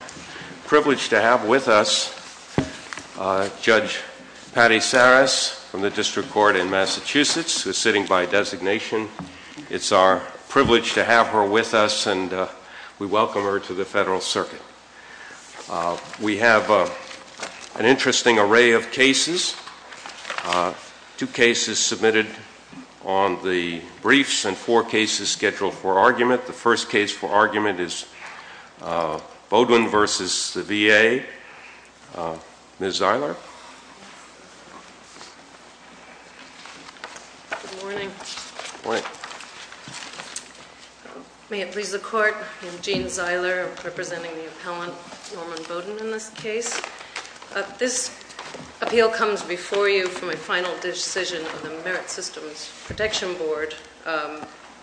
It's a privilege to have with us Judge Patty Sarris from the District Court in Massachusetts, who is sitting by designation. It's our privilege to have her with us and we welcome her to the Federal Circuit. We have an interesting array of cases, two cases submitted on the the court. I am Jean Zeiler, representing the appellant Norman Beaudoin in this case. This appeal comes before you for my final decision of the Merit Systems Protection Board,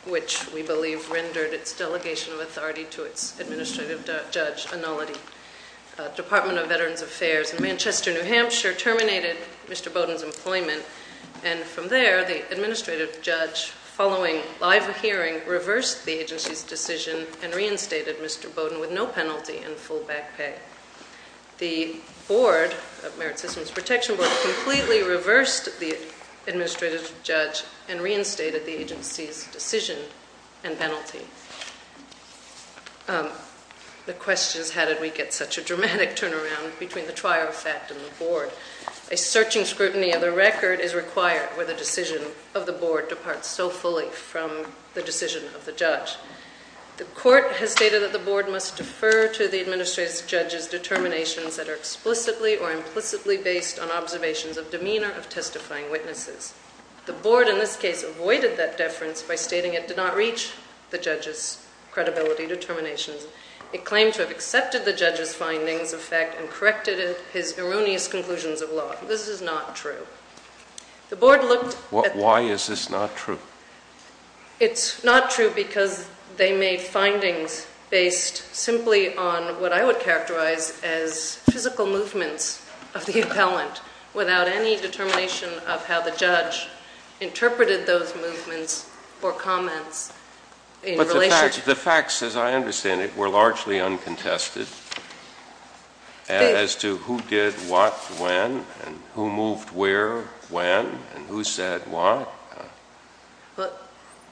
which we believe rendered its delegation of authority to its Administrative Judge Annullity. The Department of Veterans Affairs in Manchester, New Hampshire terminated Mr. Beaudoin's employment and from there the Administrative Judge, following live hearing, reversed the agency's decision and reinstated Mr. Beaudoin with no penalty and full back pay. The Board of Merit Systems decision and penalty. The question is how did we get such a dramatic turnaround between the trial fact and the Board? A searching scrutiny of the record is required where the decision of the Board departs so fully from the decision of the judge. The court has stated that the Board must defer to the Administrative Judge's determinations that are explicitly or implicitly based on observations of demeanor of testifying witnesses. The Board in this case avoided that deference by stating it did not reach the judge's credibility determinations. It claimed to have accepted the judge's findings of fact and corrected his erroneous conclusions of law. This is not true. The Board looked at... Why is this not true? It's not true because they made findings based simply on what I would characterize as physical movements of the appellant without any determination of how the judge interpreted those movements or comments in relation... The facts, as I understand it, were largely uncontested as to who did what, when, and who moved where, when, and who said what.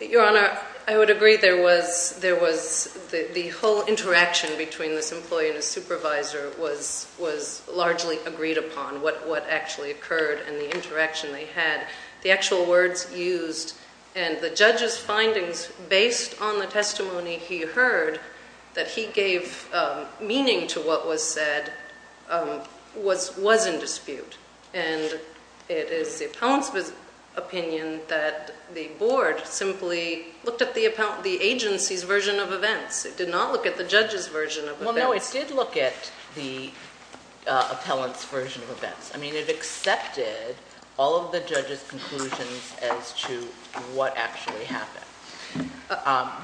Your Honor, I would agree there was... the whole interaction between this employee and the supervisor was largely agreed upon, what actually occurred and the interaction they had. The actual words used and the judge's findings based on the testimony he heard that he gave meaning to what was said was in dispute. And it is the appellant's opinion that the Board simply looked at the agency's version of events. It did not look at the judge's version of events. Well, no, it did look at the appellant's version of events. I mean, it accepted all of the judge's conclusions as to what actually happened.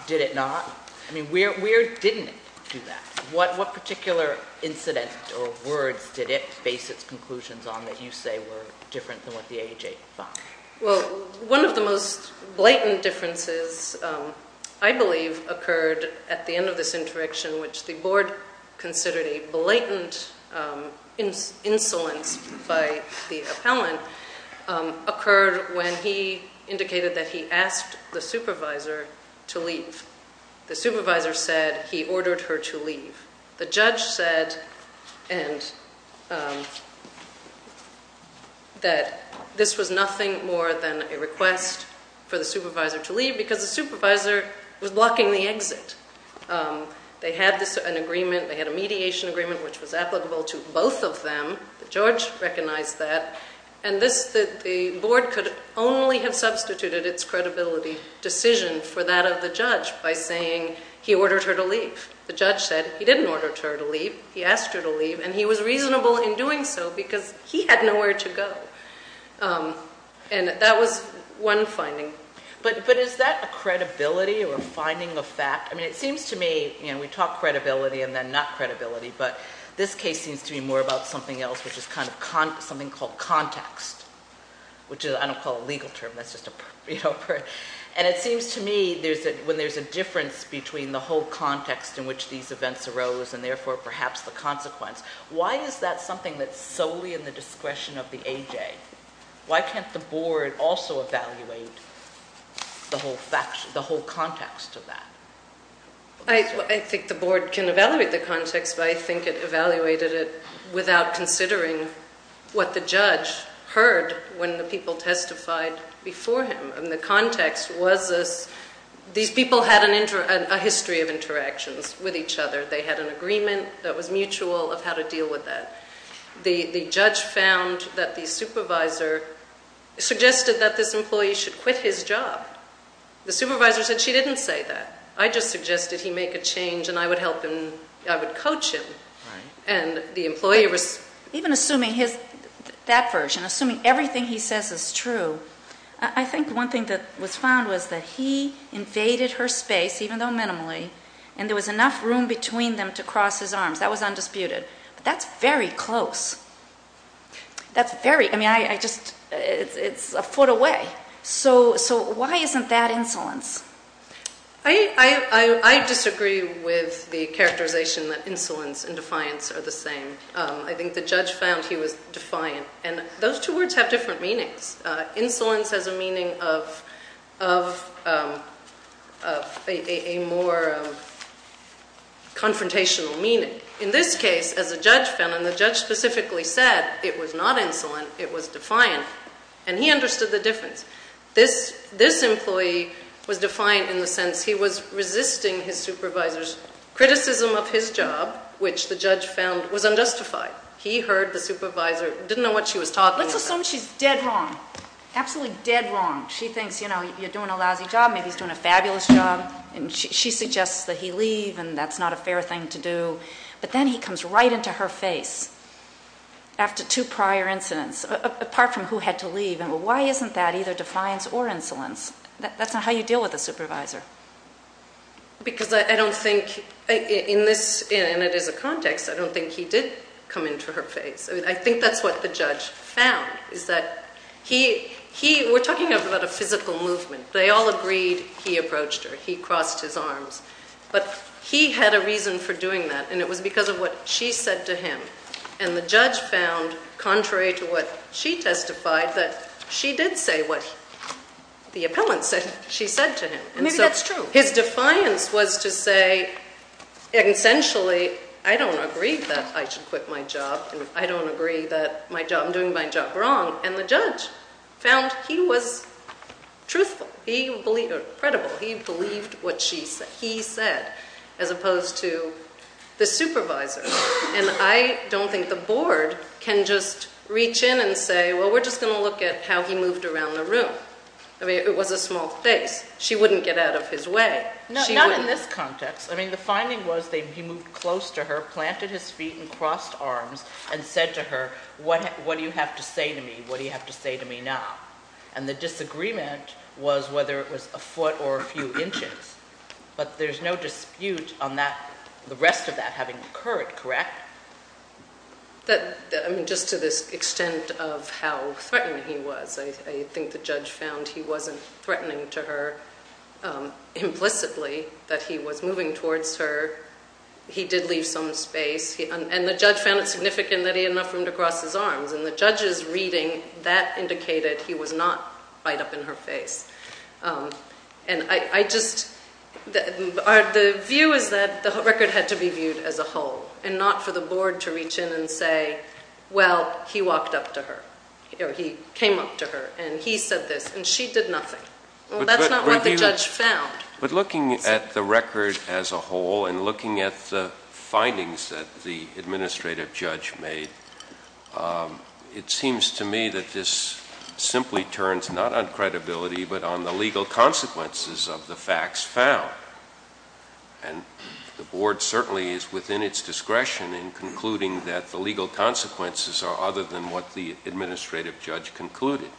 Did it not? I mean, where didn't it do that? What particular incident or words did it base its conclusions on that you say were different than what the AJ found? Well, one of the most blatant differences, I believe, occurred at the end of this interaction which the Board considered a blatant insolence by the appellant, occurred when he indicated that he asked the supervisor to leave. The supervisor said he ordered her to leave. The judge said that this was nothing more than a request for the supervisor to leave because the supervisor was blocking the exit. They had an agreement. They had a mediation agreement which was applicable to both of them. The judge recognized that. And the Board could only have substituted its credibility decision for that of the judge by saying he ordered her to leave. The judge said he didn't order her to leave. He asked her to leave. And he was reasonable in doing so because he had nowhere to go. And that was one finding. But is that a credibility or a finding of fact? I mean, it seems to me, you know, we talk credibility and then not credibility, but this case seems to be more about something else which is kind of something called context, which I don't call a legal term. That's just a, you know, and it seems to me when there's a difference between the whole context in which these events arose and therefore perhaps the consequence, why is that something that's a question of the A.J.? Why can't the Board also evaluate the whole context of that? I think the Board can evaluate the context, but I think it evaluated it without considering what the judge heard when the people testified before him. And the context was this, these people had a history of interactions with each other. They had an agreement that was found that the supervisor suggested that this employee should quit his job. The supervisor said she didn't say that. I just suggested he make a change and I would help him, I would coach him. And the employee was... Even assuming his, that version, assuming everything he says is true, I think one thing that was found was that he invaded her space, even though minimally, and there was enough room between them to cross his arms. That was undisputed. But that's very close. That's very, I mean, I just, it's a foot away. So why isn't that insolence? I disagree with the characterization that insolence and defiance are the same. I think the judge found he was defiant. And those two words have different meanings. Insolence has a meaning of a more confrontational meaning. In this case, as a judge found, and the judge specifically said, it was not insolent, it was defiant. And he understood the difference. This employee was defiant in the sense he was resisting his supervisor's criticism of his job, which the judge found was unjustified. He heard the supervisor, didn't know what she was talking about. Let's assume she's dead wrong, absolutely dead wrong. She thinks, you know, you're doing a lousy job, maybe he's doing a fabulous job, and she suggests that he leave, and that's not a fair thing to do. But then he comes right into her face after two prior incidents, apart from who had to leave. And why isn't that either defiance or insolence? That's not how you deal with a supervisor. Because I don't think in this, and it is a context, I don't think he did come into her face. What he found is that he, we're talking about a physical movement. They all agreed he approached her, he crossed his arms. But he had a reason for doing that, and it was because of what she said to him. And the judge found, contrary to what she testified, that she did say what the appellant said she said to him. And maybe that's true. His defiance was to say, essentially, I don't agree that I should quit my job, and I don't agree that I'm doing my job wrong. And the judge found he was truthful, credible. He believed what he said, as opposed to the supervisor. And I don't think the board can just reach in and say, well, we're just going to look at how he moved around the room. I mean, it was a small face. She wouldn't get out of his way. Not in this context. I mean, the finding was that he moved close to her, planted his feet and crossed arms, and said to her, what do you have to say to me? What do you have to say to me now? And the disagreement was whether it was a foot or a few inches. But there's no dispute on that, the rest of that having occurred, correct? That, I mean, just to this extent of how threatened he was, I think the judge found he wasn't threatening to her implicitly, that he was moving towards her. He did leave some space. And the judge found it significant that he had enough room to cross his arms. And the judge's reading, that indicated he was not right up in her face. And I just, the view is that the record had to be viewed as a whole, and not for the board to reach in and say, well, he walked up to her. Or he came up to her. And he said this. And she did nothing. Well, that's not what the judge found. But looking at the record as a whole, and looking at the findings that the administrative judge made, it seems to me that this simply turns not on credibility, but on the legal consequences of the facts found. And the board certainly is within its discretion in concluding that the legal consequences are other than what the administrative judge concluded.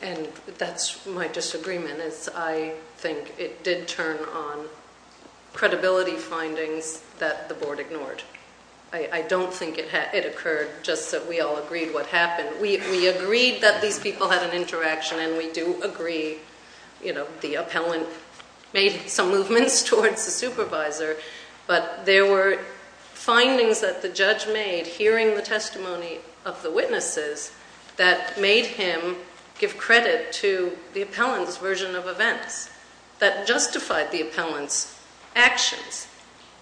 And that's my disagreement, is I think it did turn on credibility findings that the board ignored. I don't think it occurred just that we all agreed what happened. We agreed that these people had an interaction, and we do agree, you know, the appellant made some movements towards the supervisor. But there were findings that the judge made, hearing the testimony of the witnesses, that made him give credit to the appellant's version of events that justified the appellant's actions.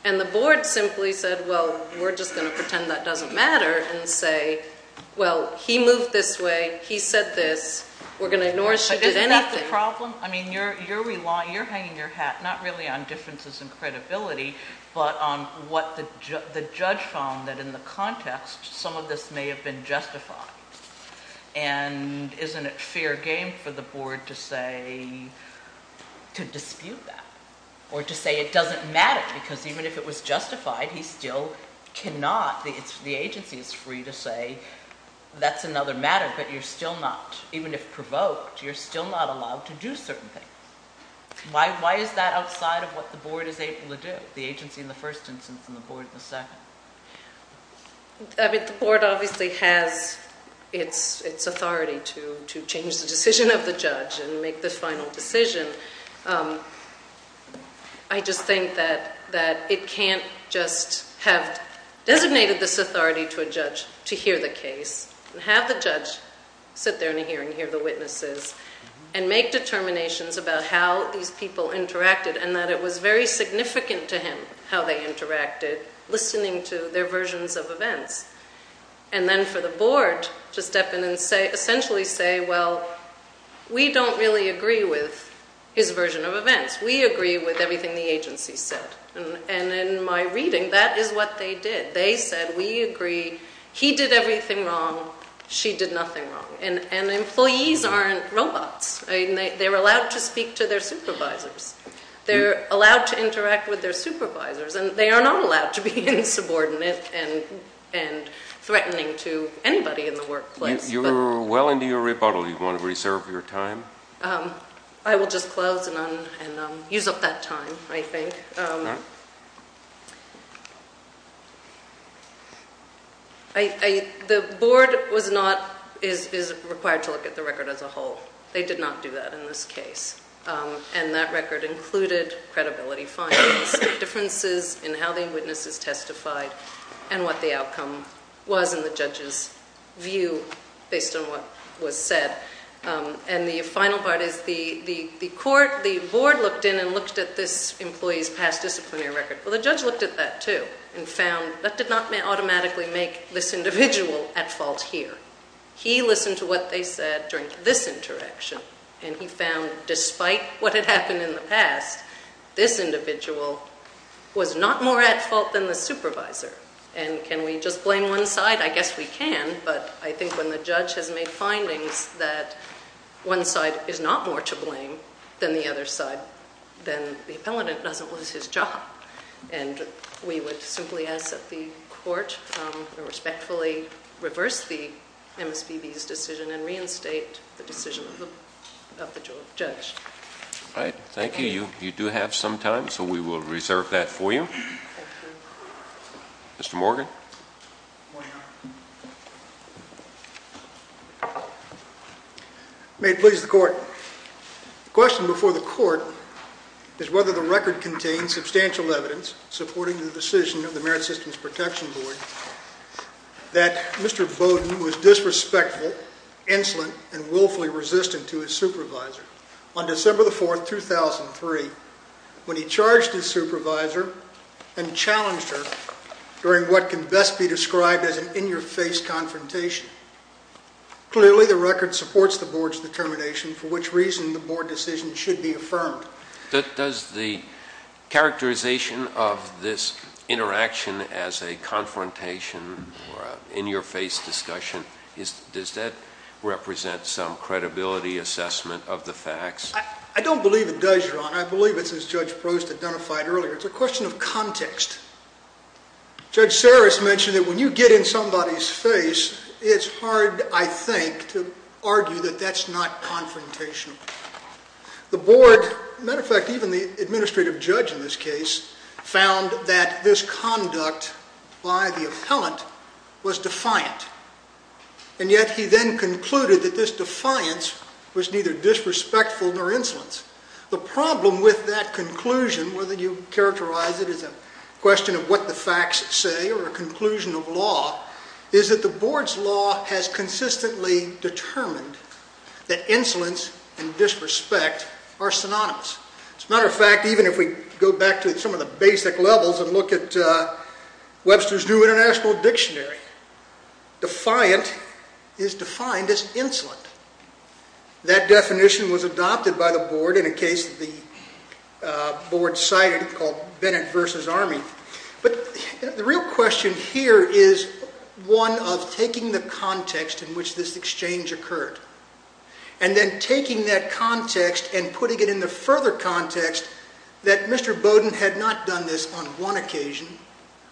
And the board simply said, well, we're just going to pretend that doesn't matter, and say, well, he moved this way. He said this. We're going to ignore if she did anything. But isn't that the problem? I mean, you're relying, you're hanging your hat not really on differences in credibility, but on what the judge found, that in the context, some of this may have been justified. And isn't it fair game for the board to say, to dispute that? Or to say it doesn't matter, because even if it was justified, he still cannot, the agency is free to say that's another matter, but you're still not, even if provoked, you're not going to say that. And why is that outside of what the board is able to do, the agency in the first instance and the board in the second? I mean, the board obviously has its authority to change the decision of the judge and make the final decision. I just think that it can't just have designated this authority to a judge to hear the case, and have the judge sit there in a hearing, hear the witnesses, and make determinations about how these people interacted, and that it was very significant to him how they interacted, listening to their versions of events. And then for the board to step in and essentially say, well, we don't really agree with his version of events. We agree with everything the agency said. And in my reading, that is what they did. They said, we agree. He did everything wrong. She did nothing wrong. And employees aren't robots. They're allowed to speak to their supervisors. They're allowed to interact with their supervisors, and they are not allowed to be insubordinate and threatening to anybody in the workplace. You're well into your rebuttal. Do you want to reserve your time? I will just close and use up that time, I think. The board is required to look at the record as a whole. They did not do that in this case. And that record included credibility findings, differences in how the witnesses testified, and what the outcome was in the judge's view based on what was said. And the final part is the board looked in and looked at this employee's past disciplinary record. Well, the judge looked at that, too, and found that did not automatically make this individual at fault here. He listened to what they said during this interaction, and he found, despite what had happened in the past, this individual was not more at fault than the supervisor. And can we just blame one side? I guess we can, but I think when the judge has made findings that one side is not more to blame than the other side, then the appellant doesn't lose his job. And we would simply ask that the court respectfully reverse the MSPB's decision and reinstate the decision of the judge. All right. Thank you. You do have some time, so we will reserve that for you. Mr. Morgan? May it please the Court. The question before the Court is whether the record contains substantial evidence supporting the decision of the Merit Systems Protection Board that Mr. Bowden was disrespectful, insolent, and willfully resistant to his supervisor. On December 4, 2003, when he charged his supervisor and challenged her during what can best be described as an in-your-face confrontation, clearly the record supports the Board's determination for which reason the Board decision should be affirmed. Does the characterization of this interaction as a confrontation or an in-your-face discussion, does that represent some credibility assessment of the facts? I don't believe it does, Your Honor. I believe it's as Judge Prost identified earlier. It's a question of context. Judge Sarris mentioned that when you get in somebody's face, it's hard, I think, to argue that that's not confrontational. The Board, as a matter of fact, even the administrative judge in this case, found that this conduct by the appellant was defiant. And yet he then called it disrespectful or insolent. The problem with that conclusion, whether you characterize it as a question of what the facts say or a conclusion of law, is that the Board's law has consistently determined that insolence and disrespect are synonymous. As a matter of fact, even if we go back to some of the basic levels and look at Webster's New International Dictionary, defiant is defined as insolent. That definition was a defiant adopted by the Board in a case that the Board cited called Bennett v. Army. But the real question here is one of taking the context in which this exchange occurred, and then taking that context and putting it in the further context that Mr. Bowden had not done this on one occasion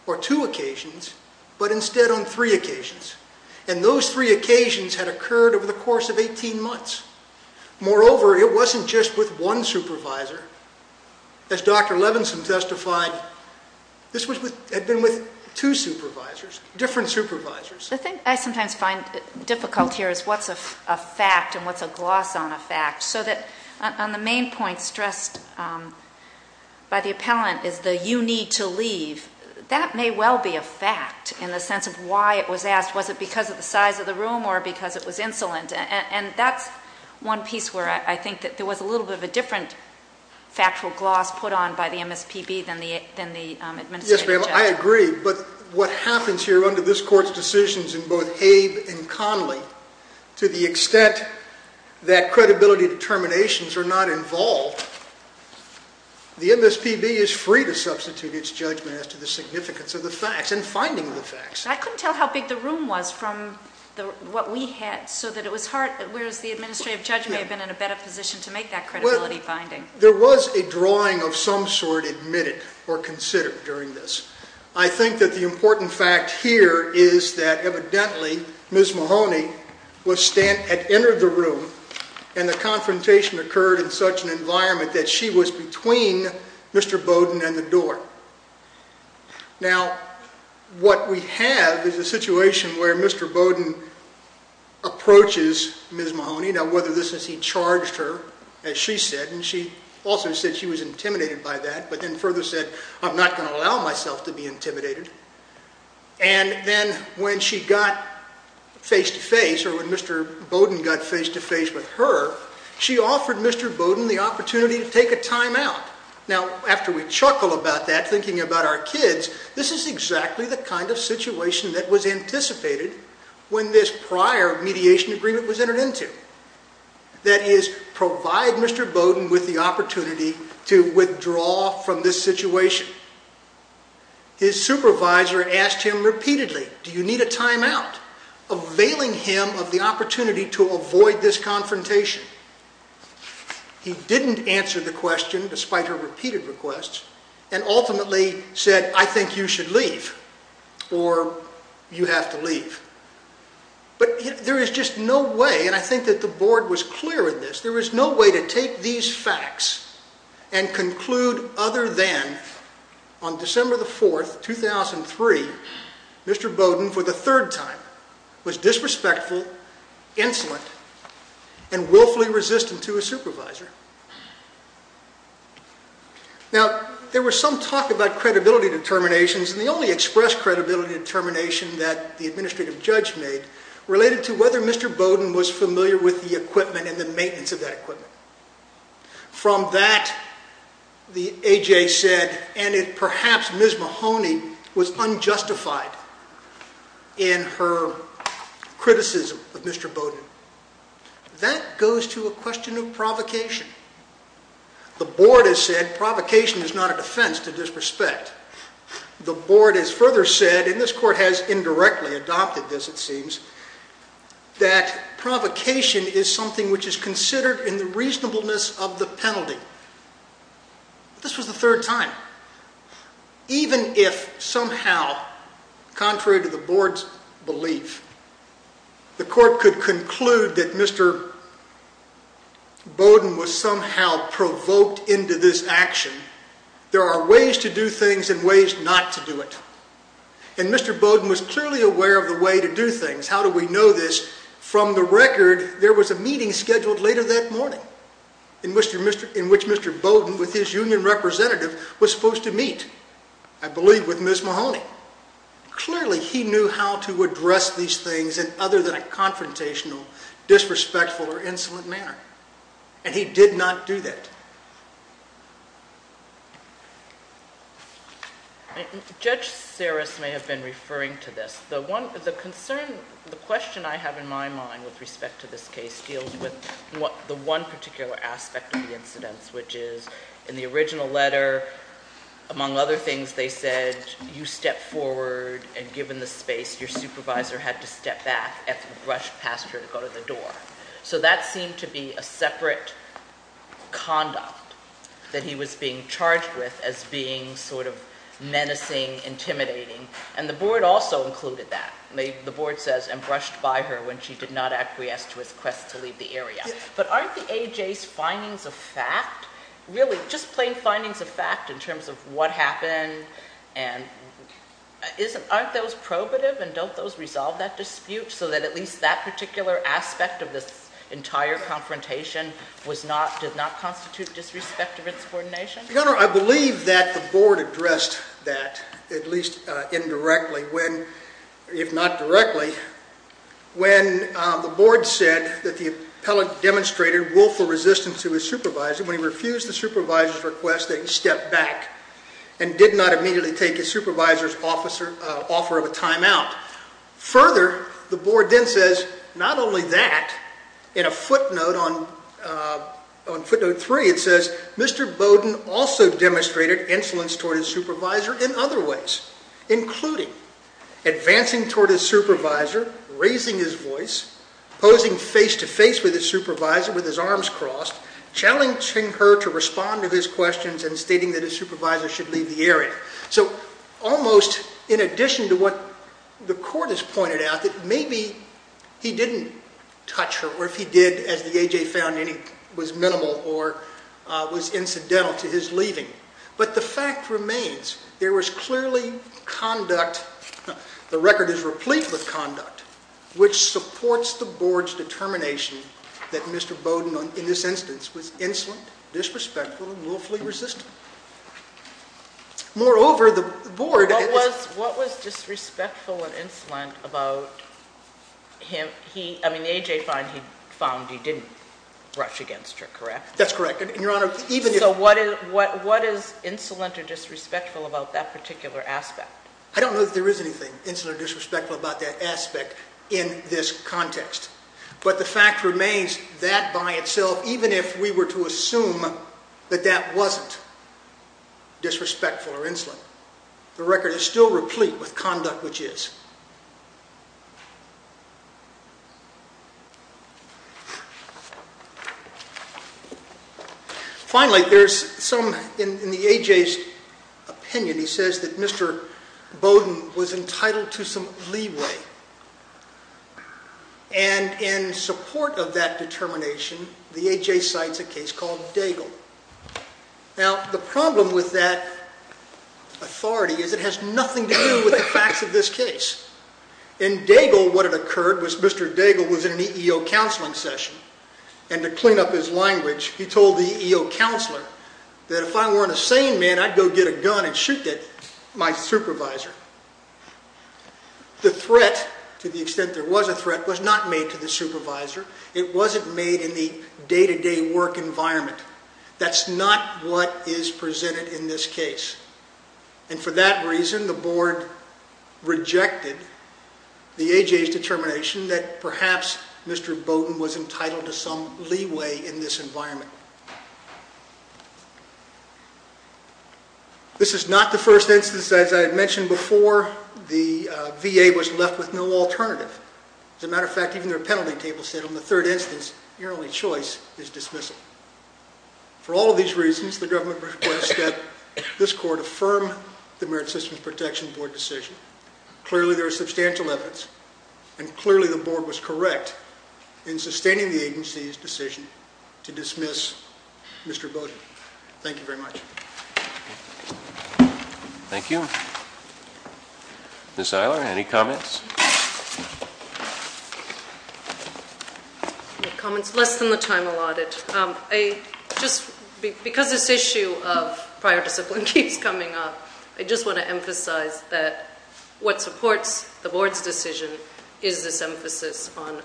or two occasions, but instead on three occasions. And those three were, it wasn't just with one supervisor. As Dr. Levinson testified, this had been with two supervisors, different supervisors. The thing I sometimes find difficult here is what's a fact and what's a gloss on a fact. So that on the main point stressed by the appellant is the you need to leave. That may well be a fact in the sense of why it was asked. Was it because of the size of the room or because it was insolent? And that's one piece where I think that there was a little bit of a different factual gloss put on by the MSPB than the administrative judge. Yes, ma'am, I agree. But what happens here under this Court's decisions in both Abe and Conley to the extent that credibility determinations are not involved, the MSPB is free to substitute its judgment as to the significance of the facts and finding the facts. I couldn't tell how big the room was from what we had so that it was hard, whereas the administrative judge may have been in a better position to make that credibility finding. There was a drawing of some sort admitted or considered during this. I think that the important fact here is that evidently Ms. Mahoney had entered the room and the confrontation occurred in such an environment that she was between Mr. Bowden and the door. Now, what we have is a situation where Mr. Bowden approaches Ms. Mahoney. Now, whether this is he charged her, as she said, and she also said she was intimidated by that, but then further said, I'm not going to allow myself to be intimidated. And then when she got face to face or when Mr. Bowden got face to face with her, she offered Mr. Bowden the opportunity to avoid this confrontation. He didn't answer the question, despite her repeated requests, and ultimately said, I think you should leave or you have to leave. But there is just no way, and I think that the board was clear in this, there was no way to take these facts and conclude other than on December the 4th, 2003, Mr. Bowden for the third time was disrespectful, insolent, and willfully resistant to his supervisor. Now, there was some talk about credibility determinations, and the only expressed credibility determination that the administrative judge made related to whether Mr. Bowden was familiar with the equipment and the maintenance of that equipment. From that, the A.J. said, and it perhaps Ms. Mahoney was unjustified in her criticism of Mr. Bowden. That goes to a question of provocation. The board has said provocation is not a defense to disrespect. The board has further said, and this court has indirectly adopted this, it seems, that provocation is something which is considered in the reasonableness of the penalty. This was the third time. Even if somehow, contrary to the board's belief, the court could conclude that Mr. Bowden was somehow provoked into this action, there are ways to do things and ways not to do it. And Mr. Bowden was clearly aware of the way to do things. How do we know this? From the record, there was a meeting scheduled later that morning in which Mr. Bowden, with his union representative, was supposed to meet, I believe, with Ms. Mahoney. Clearly, he knew how to address these things in other than a confrontational, disrespectful, or insolent manner. And he did not do that. Judge Saris may have been referring to this. The question I have in my mind with respect to this case deals with the one particular aspect of the incidents, which is, in the case of the AJ, when you stepped forward and given the space, your supervisor had to step back after you brushed past her to go to the door. So that seemed to be a separate conduct that he was being charged with as being menacing, intimidating. And the board also included that. The board says, and brushed by her when she did not acquiesce to his quest to leave the area. But aren't the AJ's findings a fact? Really, just plain findings a fact in terms of what happened? And aren't those probative? And don't those resolve that dispute so that at least that particular aspect of this entire confrontation did not constitute disrespect of its coordination? Your Honor, I believe that the board addressed that, at least indirectly, if not directly, when the board said that the appellant demonstrated willful resistance to his supervisor when he refused the supervisor's request that he step back and did not immediately take his supervisor's offer of a time out. Further, the board then says, not only that, in a footnote on footnote three, it says, Mr. Bowden also demonstrated influence toward his supervisor in other ways, including advancing toward his supervisor, raising his voice, posing face-to-face with his supervisor with his arms crossed, challenging her to respond to his questions, and stating that his supervisor should leave the area. So almost in addition to what the court has pointed out, that maybe he didn't touch her, or if he did, as the AJ found any, was minimal or was incidental to his leaving. But the fact remains, there is no determination that Mr. Bowden, in this instance, was insolent, disrespectful, and willfully resistant. Moreover, the board... What was disrespectful and insolent about him, he, I mean, the AJ found he didn't rush against her, correct? That's correct, and Your Honor, even if... So what is insolent or disrespectful about that particular aspect? I don't know that there is anything insolent or disrespectful about that aspect in this case, but the fact remains that by itself, even if we were to assume that that wasn't disrespectful or insolent, the record is still replete with conduct which is. Finally, there's some, in the AJ's opinion, he says that Mr. Bowden was entitled to some support of that determination. The AJ cites a case called Daigle. Now, the problem with that authority is it has nothing to do with the facts of this case. In Daigle, what had occurred was Mr. Daigle was in an EEO counseling session, and to clean up his language, he told the EEO counselor that if I weren't a sane man, I'd go get a gun and shoot my supervisor. The threat, to the extent there was a threat, was not made to the supervisor. It wasn't made in the day-to-day work environment. That's not what is presented in this case, and for that reason, the board rejected the AJ's determination that perhaps Mr. Bowden was entitled to some leeway in this environment. This is not the first instance, as I had mentioned before, the VA was left with no alternative. As a matter of fact, even their penalty table said on the third instance, your only choice is dismissal. For all of these reasons, the government requests that this court affirm the Merit Systems Protection Board decision. Clearly, there is substantial evidence, and I would like to ask Mr. Bowden. Thank you very much. Thank you. Ms. Eiler, any comments? Comments less than the time allotted. Because this issue of prior discipline keeps coming up, I just want to emphasize that what supports the board's decision is this emphasis on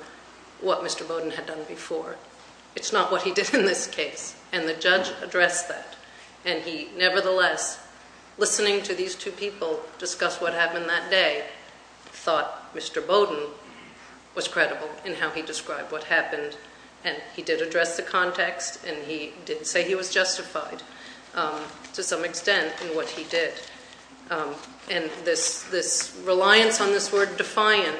what he did in this case, and the judge addressed that, and he nevertheless, listening to these two people discuss what happened that day, thought Mr. Bowden was credible in how he described what happened, and he did address the context, and he did say he was justified to some extent in what he did, and this reliance on this word defiant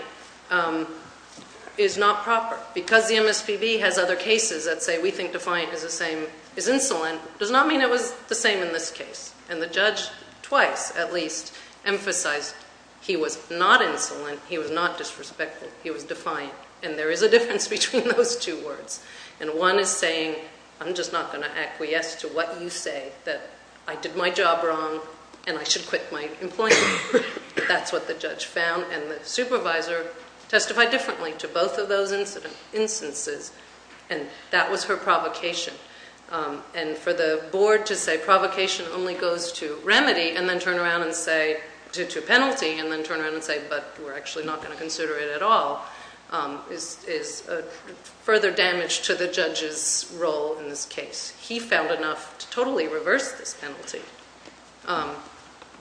is not proper. Because the MSPB has other cases that say we think defiant is the same as insolent, it does not mean it was the same in this case, and the judge twice, at least, emphasized he was not insolent, he was not disrespectful, he was defiant, and there is a difference between those two words, and one is saying, I'm just not going to acquiesce to what you say, that I did my job wrong, and I should quit my employment. That's what the judge found, and the supervisor testified differently to both of those instances, and that was her provocation, and for the board to say provocation only goes to remedy, and then turn around and say, to penalty, and then turn around and say, but we're actually not going to consider it at all, is further damage to the judge's role in this case. He found enough to totally reverse this penalty.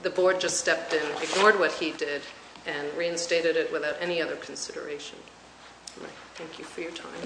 The board just stepped in, ignored what he did, and reinstated it without any other consideration. Thank you for your time.